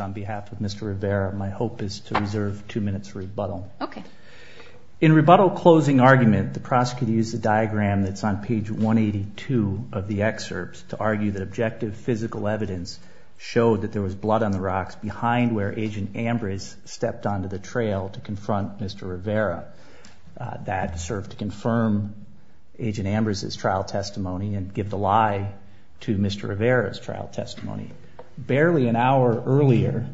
on behalf of Mr. Rivera. My hope is to reserve two minutes for rebuttal. Okay. In rebuttal closing argument, the prosecutor used the diagram that's on page 182 of the excerpts to argue that objective physical evidence showed that there was blood on the rocks behind where Agent Ambrose stepped onto the trail to confront Mr. Rivera. That served to confirm Agent Ambrose's trial testimony and give the lie to the prosecutor. Barely an hour earlier,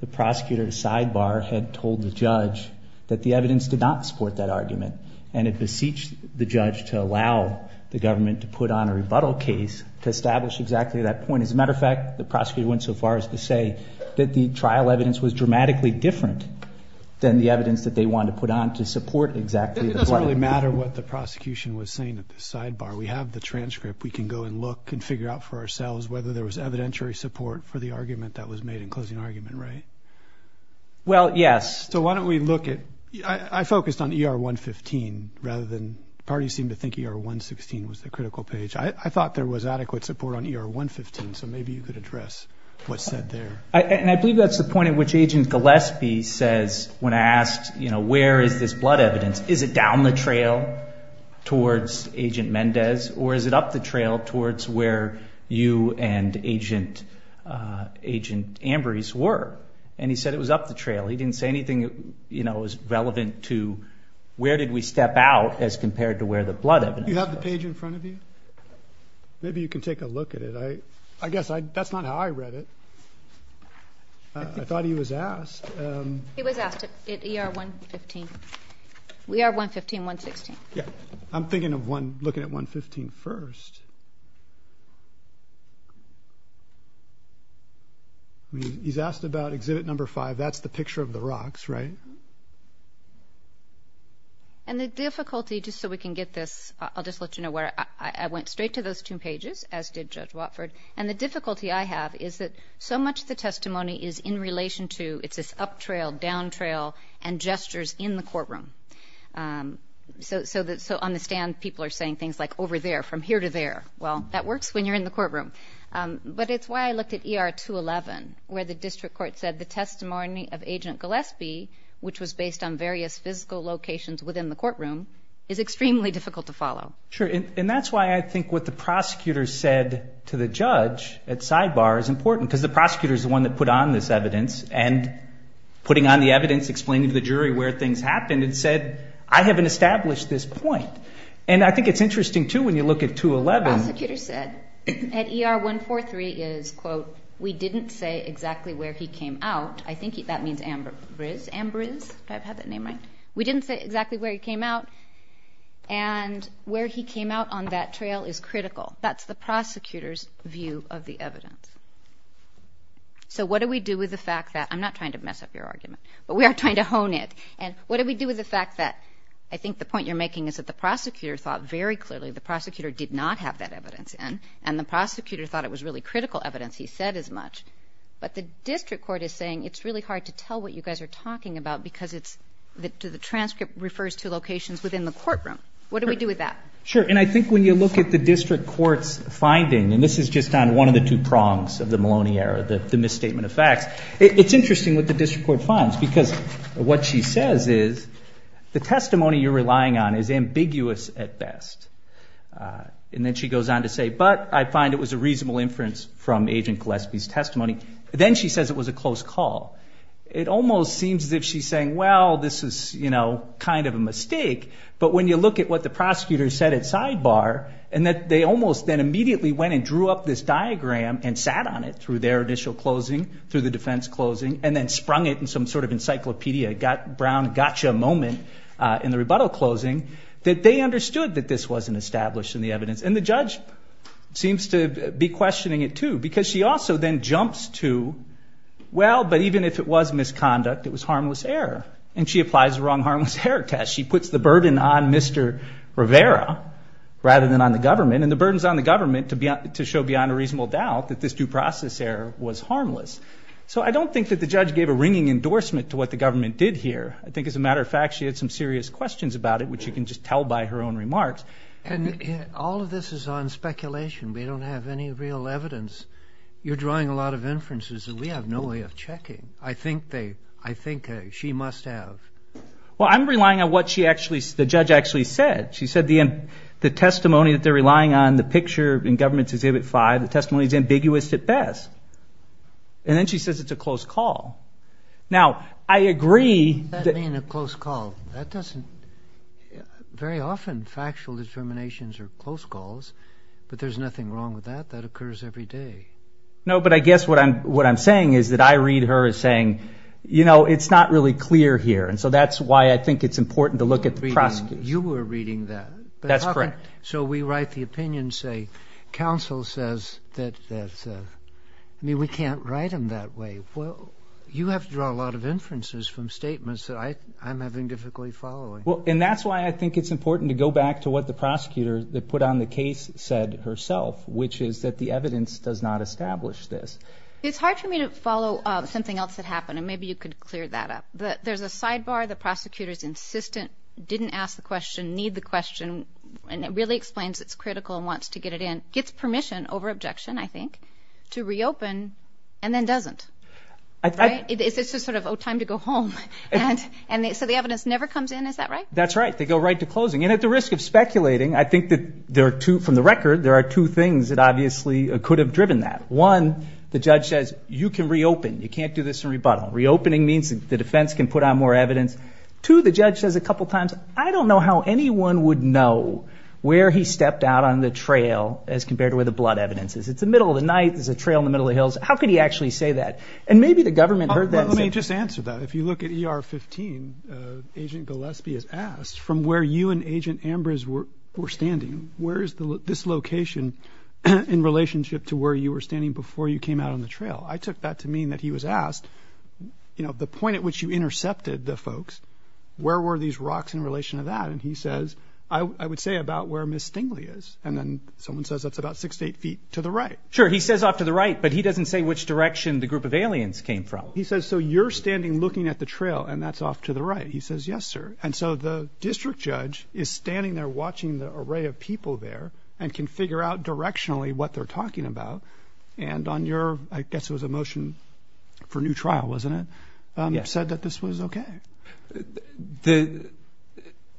the prosecutor's sidebar had told the judge that the evidence did not support that argument, and it beseeched the judge to allow the government to put on a rebuttal case to establish exactly that point. As a matter of fact, the prosecutor went so far as to say that the trial evidence was dramatically different than the evidence that they wanted to put on to support exactly the point. It doesn't really matter what the prosecution was saying at the sidebar. We have the transcript. We can go and look and figure out for ourselves whether there was evidentiary support for the argument that was made in closing argument, right? Well, yes. So why don't we look at – I focused on ER-115 rather than – parties seem to think ER-116 was the critical page. I thought there was adequate support on ER-115, so maybe you could address what's said there. And I believe that's the point at which Agent Gillespie says when I asked, you know, where is this blood evidence, is it down the trail towards Agent Mendez or is it up the trail towards where you and Agent Ambrose were? And he said it was up the trail. He didn't say anything, you know, as relevant to where did we step out as compared to where the blood evidence was. You have the page in front of you? Maybe you can take a look at it. I guess that's not how I read it. I thought he was asked. He was asked at ER-115. ER-115, 116. I'm thinking of looking at 115 first. He's asked about exhibit number five. That's the picture of the rocks, right? And the difficulty, just so we can get this – I'll just let you know where I went straight to those two pages, as did Judge Watford. And the difficulty I have is that so much of the testimony is in relation to – it's this up trail, down trail, and gestures in the courtroom. So on the stand, people are saying things like, over there, from here to there. Well, that works when you're in the courtroom. But it's why I looked at ER-211, where the district court said the testimony of Agent Gillespie, which was based on various physical locations within the courtroom, is extremely difficult to follow. Sure. And that's why I think what the prosecutor said to the judge at sidebar is important, because the prosecutor is the one that put on this evidence, and putting on the evidence, explaining to the jury where things happened, and said, I haven't established this point. And I think it's interesting, too, when you look at 211. The prosecutor said at ER-143 is, quote, we didn't say exactly where he came out. I think that means Ambriz. Ambriz? Do I have that name right? We didn't say exactly where he came out. And where he came out on that trail is critical. That's the prosecutor's view of the evidence. So what do we do with the fact that – I'm not trying to mess up your argument, but we are trying to hone it. And what do we do with the fact that – I think the point you're making is that the prosecutor thought very clearly, the prosecutor did not have that evidence in, and the prosecutor thought it was really critical evidence he said as much. But the district court is saying it's really hard to tell what you guys are talking about, because it's – the transcript refers to locations within the courtroom. What do we do with that? Sure. And I think when you look at the district court's finding – and this is just on one of the two prongs of the Maloney error, the misstatement of facts – it's interesting what the district court finds, because what she says is, the testimony you're relying on is ambiguous at best. And then she goes on to say, but I find it was a reasonable inference from Agent Gillespie's testimony. Then she says it was a close call. It almost seems as if she's saying, well, this is kind of a mistake. But when you look at what the prosecutor said at sidebar, and that they almost then immediately went and drew up this diagram and sat on it through their initial closing, through the defense closing, and then sprung it in some sort of encyclopedia brown gotcha moment in the rebuttal closing, that they understood that this wasn't established in the evidence. And the judge seems to be questioning it, too, because she also then jumps to, well, but even if it was misconduct, it was harmless error. And she applies the wrong harmless error test. She puts the burden on Mr. Rivera rather than on the government. And the burden's on the government to show beyond a reasonable doubt that this due process error was harmless. So I don't think that the judge gave a ringing endorsement to what the government did here. I think, as a matter of fact, she had some serious questions about it, which you can just tell by her own remarks. And all of this is on speculation. We don't have any real evidence. You're drawing a lot of inferences that we have no way of checking. I think she must have. Well, I'm relying on what the judge actually said. She said the testimony that they're relying on, the picture in Government's Exhibit 5, the testimony is ambiguous at best. And then she says it's a close call. Now, I agree. What does that mean, a close call? Very often, factual determinations are close calls, but there's nothing wrong with that. That occurs every day. No, but I guess what I'm saying is that I read her as saying, you know, it's not really clear here. And so that's why I think it's important to look at the prosecutors. You were reading that. That's correct. So we write the opinion, say, counsel says that, I mean, we can't write them that way. Well, you have to draw a lot of inferences from statements that I'm having difficulty following. Well, and that's why I think it's important to go back to what the prosecutor that put on the case said herself, which is that the evidence does not establish this. It's hard for me to follow something else that happened, and maybe you could clear that up. There's a sidebar. The prosecutor's insistent, didn't ask the question, need the question, and it really explains it's critical and wants to get it in, gets permission over objection, I think, to reopen and then doesn't. It's just sort of, oh, time to go home. And so the evidence never comes in. Is that right? That's right. They go right to closing. And at the risk of speculating, I think that there are two, from the record, there are two things that obviously could have driven that. One, the judge says, you can reopen. You can't do this in rebuttal. Reopening means the defense can put on more evidence. Two, the judge says a couple times, I don't know how anyone would know where he stepped out on the trail as compared to where the blood evidence is. It's the middle of the night. There's a trail in the middle of the hills. How could he actually say that? And maybe the government heard that. Let me just answer that. If you look at ER 15, Agent Gillespie is asked, from where you and Agent Ambrose were standing, where is this location in relationship to where you were standing before you came out on the trail? I took that to mean that he was asked, you know, the point at which you intercepted the folks, where were these rocks in relation to that? And he says, I would say about where Miss Stingly is. And then someone says that's about six to eight feet to the right. Sure. He says off to the right, but he doesn't say which direction the group of aliens came from. He says, so you're standing looking at the trail and that's off to the right. He says, yes, sir. And so the district judge is standing there watching the array of people there and can figure out directionally what they're talking about. And on your, I guess it was a motion for new trial, wasn't it, said that this was OK.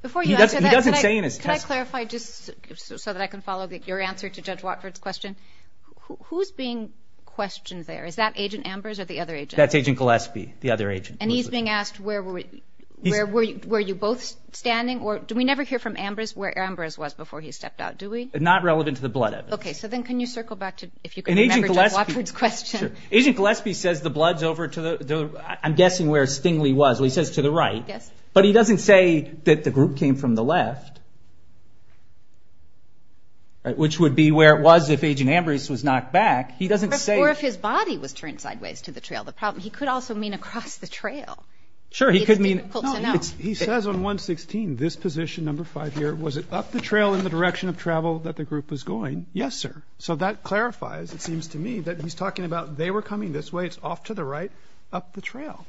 Before you answer that, can I clarify just so that I can follow your answer to Judge Watford's question? Who's being questioned there? Is that Agent Ambrose or the other agent? That's Agent Gillespie, the other agent. And he's being asked, where were you both standing? Do we never hear from Ambrose where Ambrose was before he stepped out, do we? Not relevant to the blood evidence. OK, so then can you circle back to, if you can remember Judge Watford's question. Agent Gillespie says the blood's over to the, I'm guessing where Stingly was. He says to the right, but he doesn't say that the group came from the left, which would be where it was if Agent Ambrose was knocked back. He doesn't say. Or if his body was turned sideways to the trail. The problem, he could also mean across the trail. Sure, he could mean. It's difficult to know. He says on 116, this position, number five here, was it up the trail in the direction of travel that the group was going? Yes, sir. So that clarifies, it seems to me, that he's talking about they were coming this way. It's off to the right, up the trail.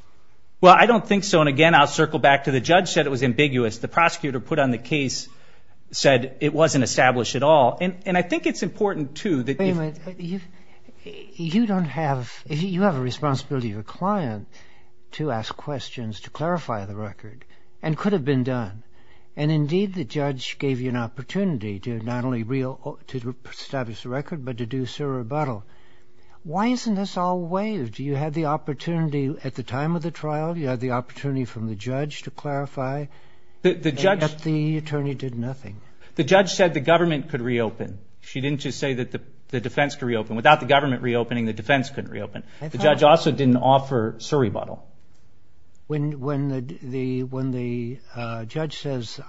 Well, I don't think so. And again, I'll circle back to the judge said it was ambiguous. The prosecutor put on the case said it wasn't established at all. And I think it's important, too, that you don't have, you have a responsibility of a client to ask questions, to clarify the record and could have been done. And indeed, the judge gave you an opportunity to not only reestablish the record, but to do so rebuttal. Why isn't this all waived? You had the opportunity at the time of the trial. You had the opportunity from the judge to clarify. The judge, the attorney did nothing. The judge said the government could reopen. She didn't just say that the defense could reopen. Without the government reopening, the defense couldn't reopen. The judge also didn't offer a rebuttal. When the judge says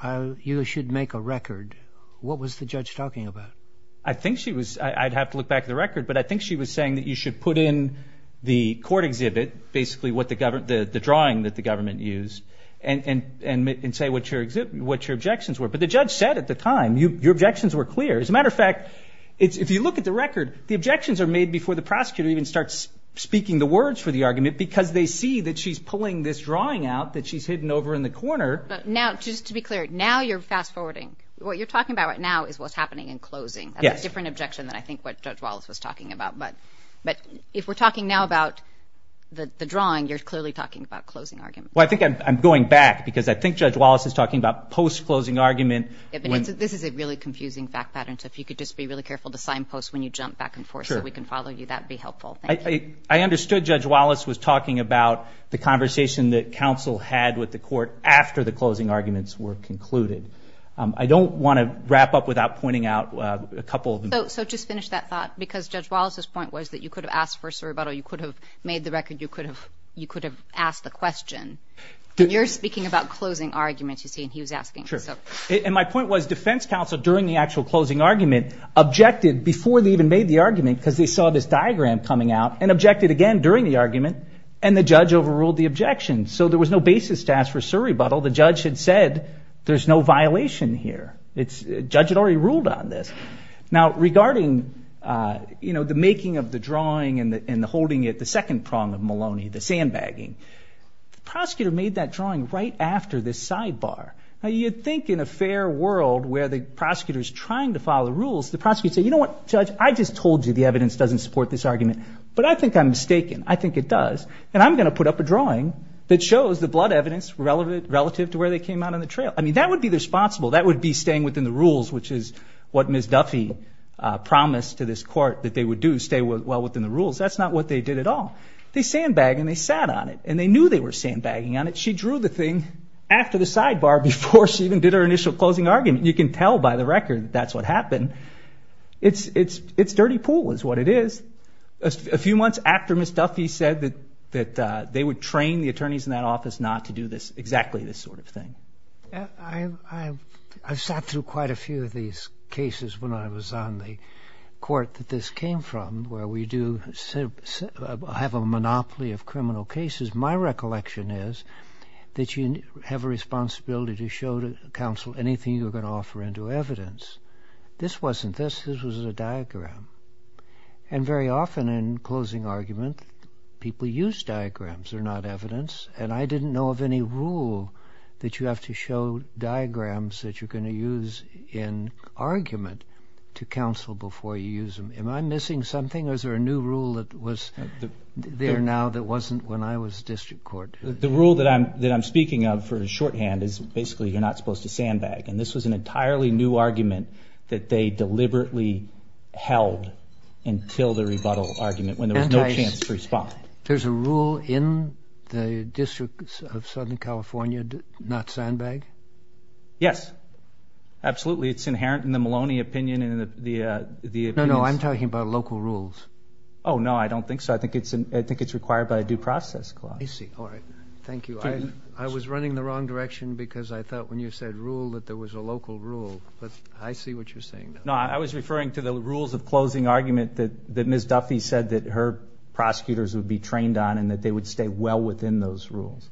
you should make a record, what was the judge talking about? I think she was, I'd have to look back at the record, but I think she was saying that you should put in the court exhibit, basically what the government, the drawing that the government used, and say what your objections were. But the judge said at the time, your objections were clear. As a matter of fact, if you look at the record, the objections are made before the prosecutor even starts speaking the words for the argument because they see that she's pulling this drawing out that she's hidden over in the corner. Now, just to be clear, now you're fast forwarding. What you're talking about right now is what's happening in closing. That's a different objection than I think what Judge Wallace was talking about. But if we're talking now about the drawing, you're clearly talking about closing arguments. Well, I think I'm going back because I think Judge Wallace is talking about post-closing argument. This is a really confusing fact pattern, so if you could just be really careful to sign post when you jump back and forth so we can follow you, that would be helpful. I understood Judge Wallace was talking about the conversation that counsel had with the court after the closing arguments were concluded. I don't want to wrap up without pointing out a couple of them. So just finish that thought because Judge Wallace's point was that you could have asked for a rebuttal, you could have made the record, you could have asked the question. You're speaking about closing arguments, you see, and he was asking. Sure, and my point was defense counsel during the actual closing argument objected before they even made the argument because they saw this diagram coming out and objected again during the argument and the judge overruled the objection. So there was no basis to ask for a surrebuttal. The judge had said there's no violation here. The judge had already ruled on this. Now, regarding, you know, the making of the drawing and holding it, the second prong of Maloney, the sandbagging, the prosecutor made that drawing right after this sidebar. Now, you'd think in a fair world where the prosecutor is trying to follow the rules, the prosecutor would say, you know what, Judge, I just told you the evidence doesn't support this argument, but I think I'm mistaken, I think it does, and I'm going to put up a drawing that shows the blood evidence relative to where they came out on the trail. I mean, that would be the responsible. That would be staying within the rules, which is what Ms. Duffy promised to this court, that they would do, stay well within the rules. That's not what they did at all. They sandbagged and they sat on it, and they knew they were sandbagging on it. She drew the thing after the sidebar before she even did her initial closing argument. You can tell by the record that's what happened. It's dirty pool is what it is. A few months after Ms. Duffy said that they would train the attorneys in that office not to do this, exactly this sort of thing. I sat through quite a few of these cases when I was on the court that this came from, where we do have a monopoly of criminal cases. My recollection is that you have a responsibility to show to counsel anything you're going to offer into evidence. This wasn't this, this was a diagram. And very often in closing argument, people use diagrams, they're not evidence, and I didn't know of any rule that you have to show diagrams that you're going to use in argument to counsel before you use them. Am I missing something, or is there a new rule that was there now that wasn't when I was district court? The rule that I'm speaking of for shorthand is basically you're not supposed to sandbag, and this was an entirely new argument that they deliberately held until the rebuttal argument when there was no chance to respond. There's a rule in the District of Southern California not sandbag? Yes, absolutely. It's inherent in the Maloney opinion. No, no, I'm talking about local rules. Oh, no, I don't think so. I think it's required by a due process clause. I see. All right. Thank you. I was running the wrong direction because I thought when you said rule that there was a local rule, but I see what you're saying now. No, I was referring to the rules of closing argument that Ms. Duffy said that her prosecutors would be trained on and that they would stay well within those rules.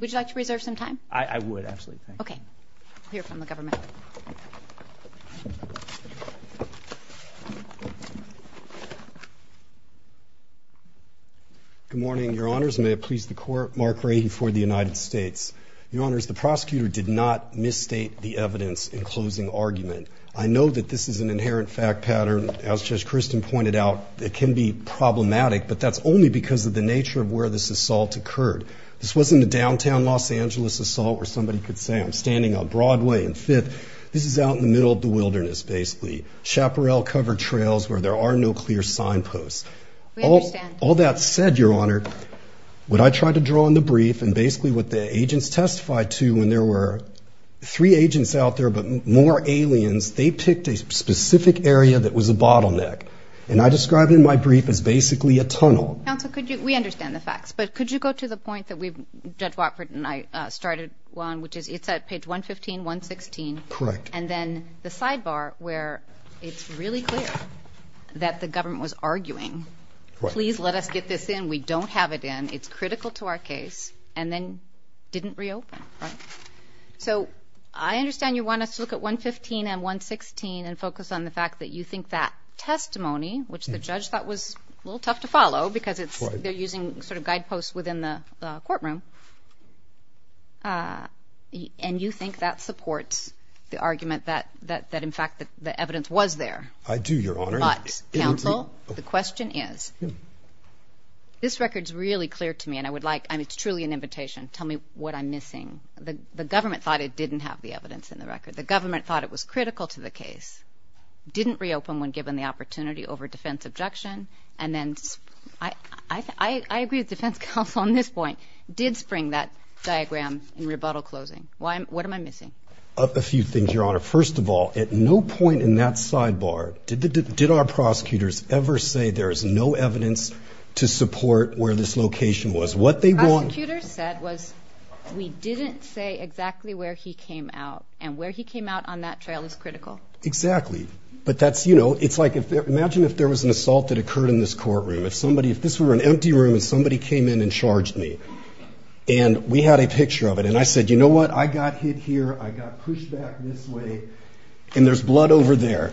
Would you like to reserve some time? I would, actually. Okay. I'll hear from the government. Good morning, Your Honors. May it please the Court, Mark Rady for the United States. Your Honors, the prosecutor did not misstate the evidence in closing argument. I know that this is an inherent fact pattern. As Judge Christin pointed out, it can be problematic, but that's only because of the nature of where this assault occurred. This wasn't a downtown Los Angeles assault where somebody could say, I'm standing on Broadway and Fifth. This is out in the middle of the wilderness, basically. Chaparral cover trails where there are no clear signposts. We understand. All that said, Your Honor, what I tried to draw in the brief and basically what the agents testified to when there were three agents out there but more aliens, they picked a specific area that was a bottleneck. And I described it in my brief as basically a tunnel. Counsel, we understand the facts, but could you go to the point that Judge Watford and I started on, which is it's at page 115, 116. Correct. And then the sidebar where it's really clear that the government was arguing, please let us get this in. We don't have it in. It's critical to our case. And then didn't reopen. So I understand you want us to look at 115 and 116 and focus on the fact that you think that testimony, which the judge thought was a little tough to follow because they're using sort of guideposts within the courtroom, and you think that supports the argument that in fact the evidence was there. I do, Your Honor. But, Counsel, the question is, this record's really clear to me and I would like, I mean it's truly an invitation, tell me what I'm missing. The government thought it didn't have the evidence in the record. The government thought it was critical to the case. Didn't reopen when given the opportunity over defense objection. And then I agree with defense counsel on this point, did spring that diagram in rebuttal closing. What am I missing? A few things, Your Honor. First of all, at no point in that sidebar did our prosecutors ever say there is no evidence to support where this location was. What they want... Prosecutors said was we didn't say exactly where he came out and where he came out on that trail is critical. Exactly. But that's, you know, it's like imagine if there was an assault that occurred in this courtroom. If this were an empty room and somebody came in and charged me and we had a picture of it and I said, you know what, I got hit here, I got pushed back this way, and there's blood over there.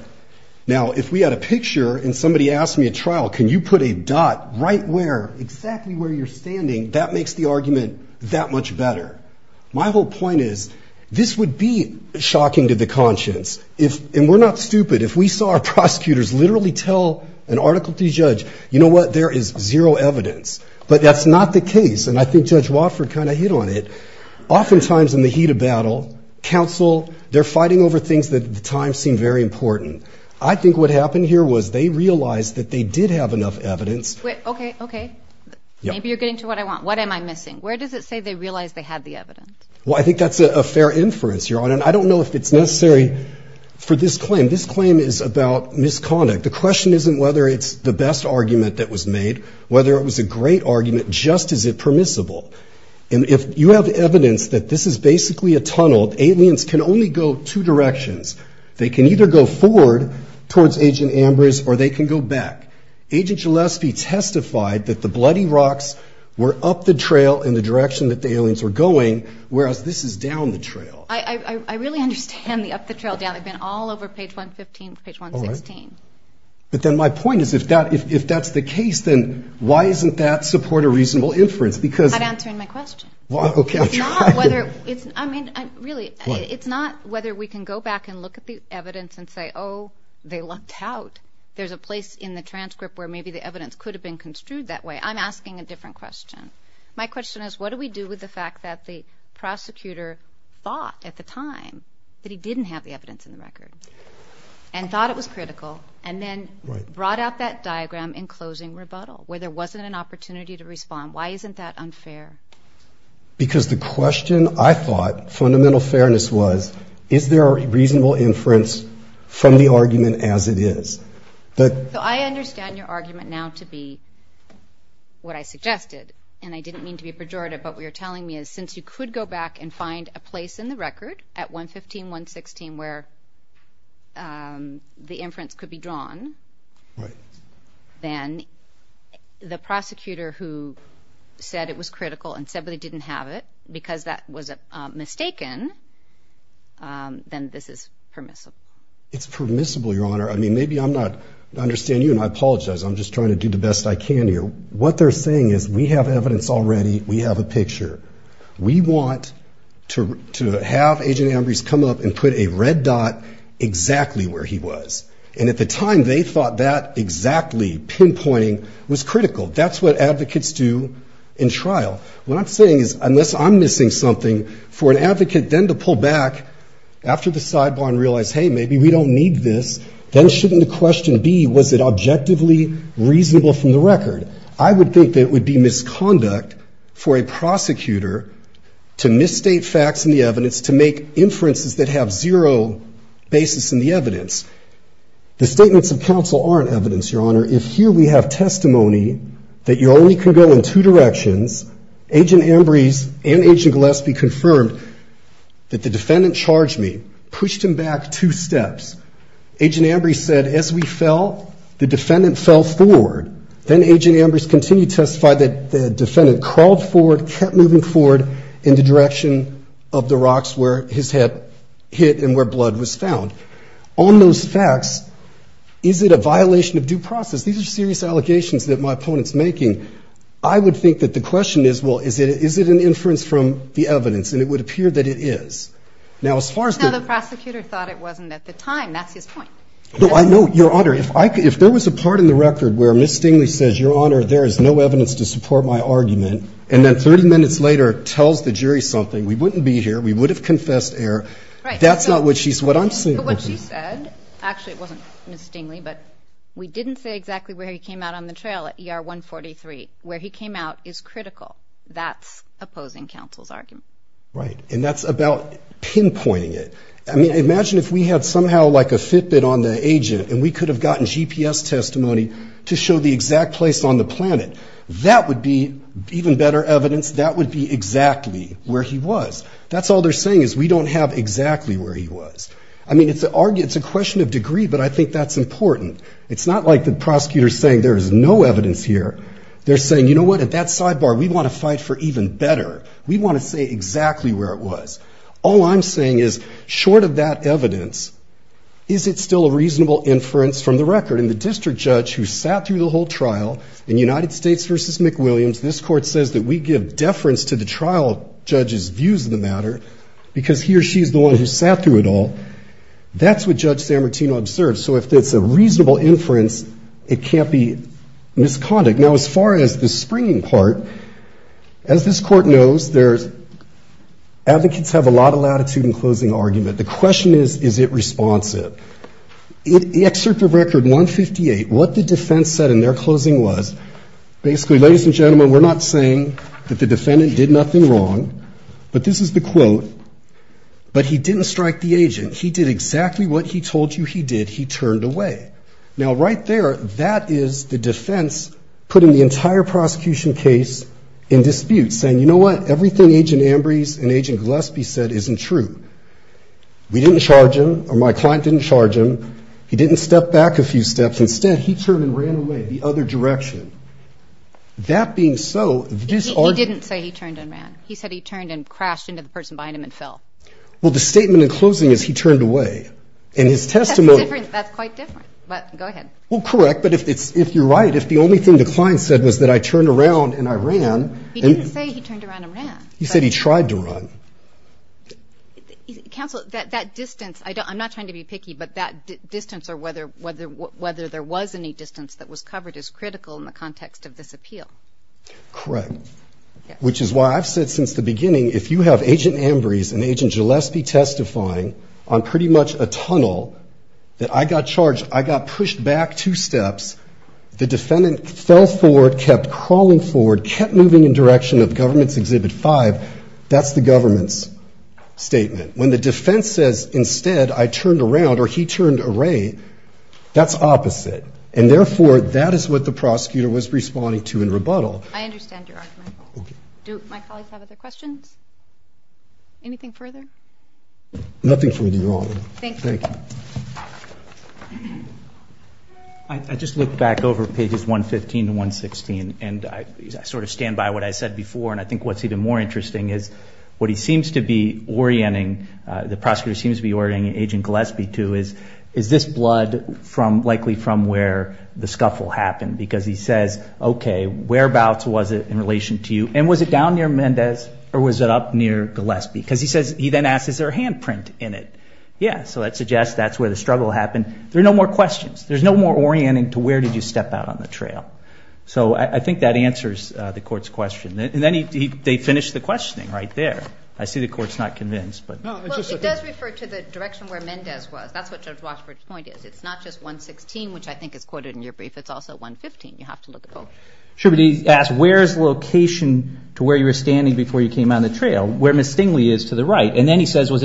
Now, if we had a picture and somebody asked me at trial, can you put a dot right where, exactly where you're standing, that makes the argument that much better. My whole point is this would be shocking to the conscience. And we're not stupid. If we saw our prosecutors literally tell an article to a judge, you know what, there is zero evidence. But that's not the case. And I think Judge Watford kind of hit on it. Oftentimes in the heat of battle, counsel, they're fighting over things that at the time seemed very important. I think what happened here was they realized that they did have enough evidence. Wait, okay, okay. Maybe you're getting to what I want. What am I missing? Where does it say they realized they had the evidence? Well, I think that's a fair inference, Your Honor. And I don't know if it's necessary for this claim. This claim is about misconduct. The question isn't whether it's the best argument that was made, whether it was a great argument, just is it permissible. And if you have evidence that this is basically a tunnel, aliens can only go two directions. They can either go forward towards Agent Ambrose or they can go back. Agent Gillespie testified that the bloody rocks were up the trail in the direction that the aliens were going, whereas this is down the trail. I really understand the up the trail, Dan. They've been all over page 115, page 116. All right. But then my point is if that's the case, then why doesn't that support a reasonable inference? I'm not answering my question. Well, okay. I'm trying to. It's not whether we can go back and look at the evidence and say, oh, they lucked out. There's a place in the transcript where maybe the evidence could have been construed that way. I'm asking a different question. My question is what do we do with the fact that the prosecutor thought at the time that he didn't have the evidence in the record and thought it was where there wasn't an opportunity to respond. Why isn't that unfair? Because the question I thought fundamental fairness was, is there a reasonable inference from the argument as it is? So I understand your argument now to be what I suggested, and I didn't mean to be pejorative, but what you're telling me is since you could go back and find a place in the record at 115, 116 where the inference could be drawn, then the prosecutor who said it was critical and said they didn't have it because that was mistaken, then this is permissible. It's permissible, Your Honor. I mean, maybe I'm not, I understand you and I apologize. I'm just trying to do the best I can here. What they're saying is we have evidence already. We have a picture. We want to have Agent Ambrose come up and put a red dot exactly where he was. And at the time they thought that exactly pinpointing was critical. That's what advocates do in trial. What I'm saying is unless I'm missing something for an advocate then to pull back after the sidebar and realize, hey, maybe we don't need this, then shouldn't the question be was it objectively reasonable from the record? I would think that it would be misconduct for a prosecutor to misstate facts in the evidence to make inferences that have zero basis in the evidence. The statements of counsel aren't evidence, Your Honor. If here we have testimony that you only can go in two directions, Agent Ambrose and Agent Gillespie confirmed that the defendant charged me, pushed him back two steps. Agent Ambrose said as we fell, the defendant fell forward. Then Agent Ambrose continued to testify that the defendant crawled forward, kept moving forward in the direction of the rocks where his head hit and where blood was found. On those facts, is it a violation of due process? These are serious allegations that my opponent's making. I would think that the question is, well, is it an inference from the evidence? And it would appear that it is. Now, as far as the ---- Now, the prosecutor thought it wasn't at the time. That's his point. No, I know, Your Honor. If there was a part in the record where Ms. Stingley says, Your Honor, there is no evidence to support my argument, and then 30 minutes later tells the jury something, we wouldn't be here, we would have confessed error, that's not what she's ---- But what she said, actually it wasn't Ms. Stingley, but we didn't say exactly where he came out on the trail at ER 143. Where he came out is critical. That's opposing counsel's argument. Right. And that's about pinpointing it. I mean, imagine if we had somehow like a Fitbit on the agent and we could have gotten GPS testimony to show the exact place on the planet. That would be even better evidence. That would be exactly where he was. That's all they're saying is we don't have exactly where he was. I mean, it's a question of degree, but I think that's important. It's not like the prosecutor is saying there is no evidence here. They're saying, you know what, at that sidebar, we want to fight for even better. We want to say exactly where it was. All I'm saying is, short of that evidence, is it still a reasonable inference from the record? And the district judge who sat through the whole trial in United States v. McWilliams, this court says that we give deference to the trial judge's views of the matter because he or she is the one who sat through it all. That's what Judge Sammartino observed. So if it's a reasonable inference, it can't be misconduct. Now, as far as the springing part, as this court knows, advocates have a lot of latitude in closing argument. The question is, is it responsive? The excerpt of Record 158, what the defense said in their closing was, basically, ladies and gentlemen, we're not saying that the defendant did nothing wrong, but this is the quote, but he didn't strike the agent. He did exactly what he told you he did. He turned away. Now, right there, that is the defense putting the entire prosecution case in dispute, saying, you know what, everything Agent Ambrose and Agent Gillespie said isn't true. We didn't charge him, or my client didn't charge him. He didn't step back a few steps. Instead, he turned and ran away the other direction. That being so, this argument ---- He didn't say he turned and ran. He said he turned and crashed into the person behind him and fell. Well, the statement in closing is he turned away. And his testimony ---- That's different. That's quite different. But go ahead. Well, correct. But if you're right, if the only thing the client said was that I turned around and I ran ---- He didn't say he turned around and ran. He said he tried to run. Counsel, that distance, I'm not trying to be picky, but that distance or whether there was any distance that was covered is critical in the context of this appeal. Correct. Which is why I've said since the beginning, if you have Agent Ambrose and Agent Gillespie testifying on pretty much a tunnel that I got charged, I got pushed back two steps, the defendant fell forward, kept crawling forward, kept moving in direction of Government's Exhibit 5, that's the government's statement. When the defense says instead I turned around or he turned away, that's opposite. And, therefore, that is what the prosecutor was responding to in rebuttal. I understand your argument. Do my colleagues have other questions? Anything further? Nothing further, Your Honor. Thank you. Thank you. I just looked back over pages 115 to 116, and I sort of stand by what I said before, and I think what's even more interesting is what he seems to be orienting, the prosecutor seems to be orienting Agent Gillespie to is, is this blood likely from where the scuffle happened? Because he says, okay, whereabouts was it in relation to you, and was it down near Mendez or was it up near Gillespie? Because he says, he then asks, is there a handprint in it? Yeah, so that suggests that's where the struggle happened. There are no more questions. There's no more orienting to where did you step out on the trail. So I think that answers the court's question. And then they finish the questioning right there. I see the court's not convinced. Well, it does refer to the direction where Mendez was. That's what Judge Washburn's point is. It's not just 116, which I think is quoted in your brief. It's also 115. You have to look at both. Sure, but he asked where's the location to where you were standing before you came out on the trail, where Miss Stingley is to the right. And then he says, was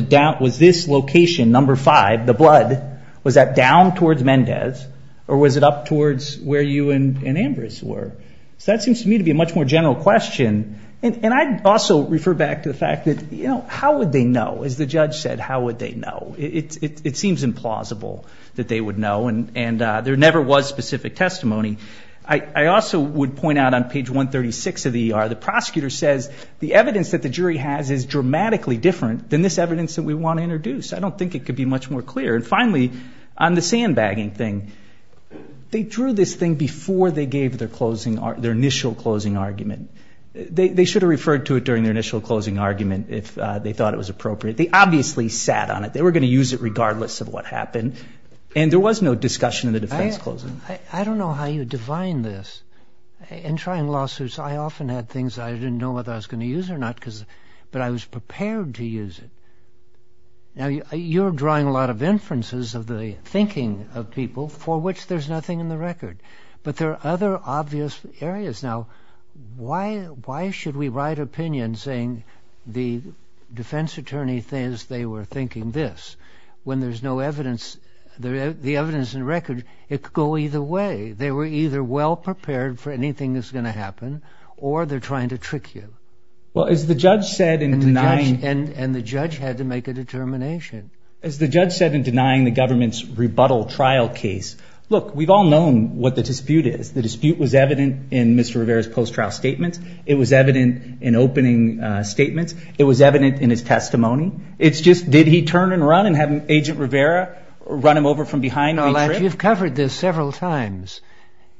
this location, number five, the blood, was that down towards Mendez or was it up towards where you and Ambrose were? So that seems to me to be a much more general question. And I'd also refer back to the fact that, you know, how would they know? As the judge said, how would they know? It seems implausible that they would know, and there never was specific testimony. I also would point out on page 136 of the ER, the prosecutor says, the evidence that the jury has is dramatically different than this evidence that we want to introduce. I don't think it could be much more clear. And finally, on the sandbagging thing, they drew this thing before they gave their initial closing argument. They should have referred to it during their initial closing argument if they thought it was appropriate. They obviously sat on it. They were going to use it regardless of what happened. And there was no discussion of the defense closing. I don't know how you define this. In trying lawsuits, I often had things I didn't know whether I was going to use or not, but I was prepared to use it. Now, you're drawing a lot of inferences of the thinking of people, for which there's nothing in the record. But there are other obvious areas. Now, why should we write opinion saying the defense attorney says they were thinking this when there's no evidence, the evidence in the record, it could go either way. They were either well prepared for anything that's going to happen or they're trying to trick you. And the judge had to make a determination. As the judge said in denying the government's rebuttal trial case, look, we've all known what the dispute is. The dispute was evident in Mr. Rivera's post-trial statement. It was evident in opening statements. It was evident in his testimony. It's just did he turn and run and have Agent Rivera run him over from behind and retrip? You've covered this several times.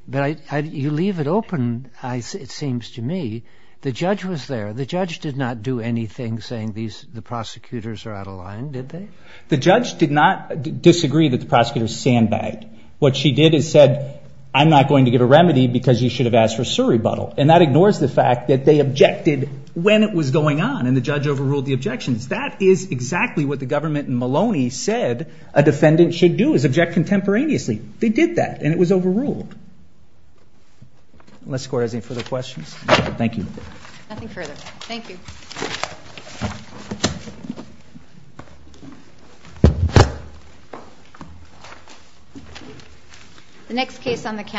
But you leave it open, it seems to me. The judge was there. The judge did not do anything saying the prosecutors are out of line, did they? The judge did not disagree that the prosecutors sandbagged. What she did is said, I'm not going to give a remedy because you should have asked for a surrebuttal. And that ignores the fact that they objected when it was going on, and the judge overruled the objections. That is exactly what the government in Maloney said a defendant should do, is object contemporaneously. They did that, and it was overruled. Unless the court has any further questions. Thank you. Nothing further. Thank you. The next case on the calendar is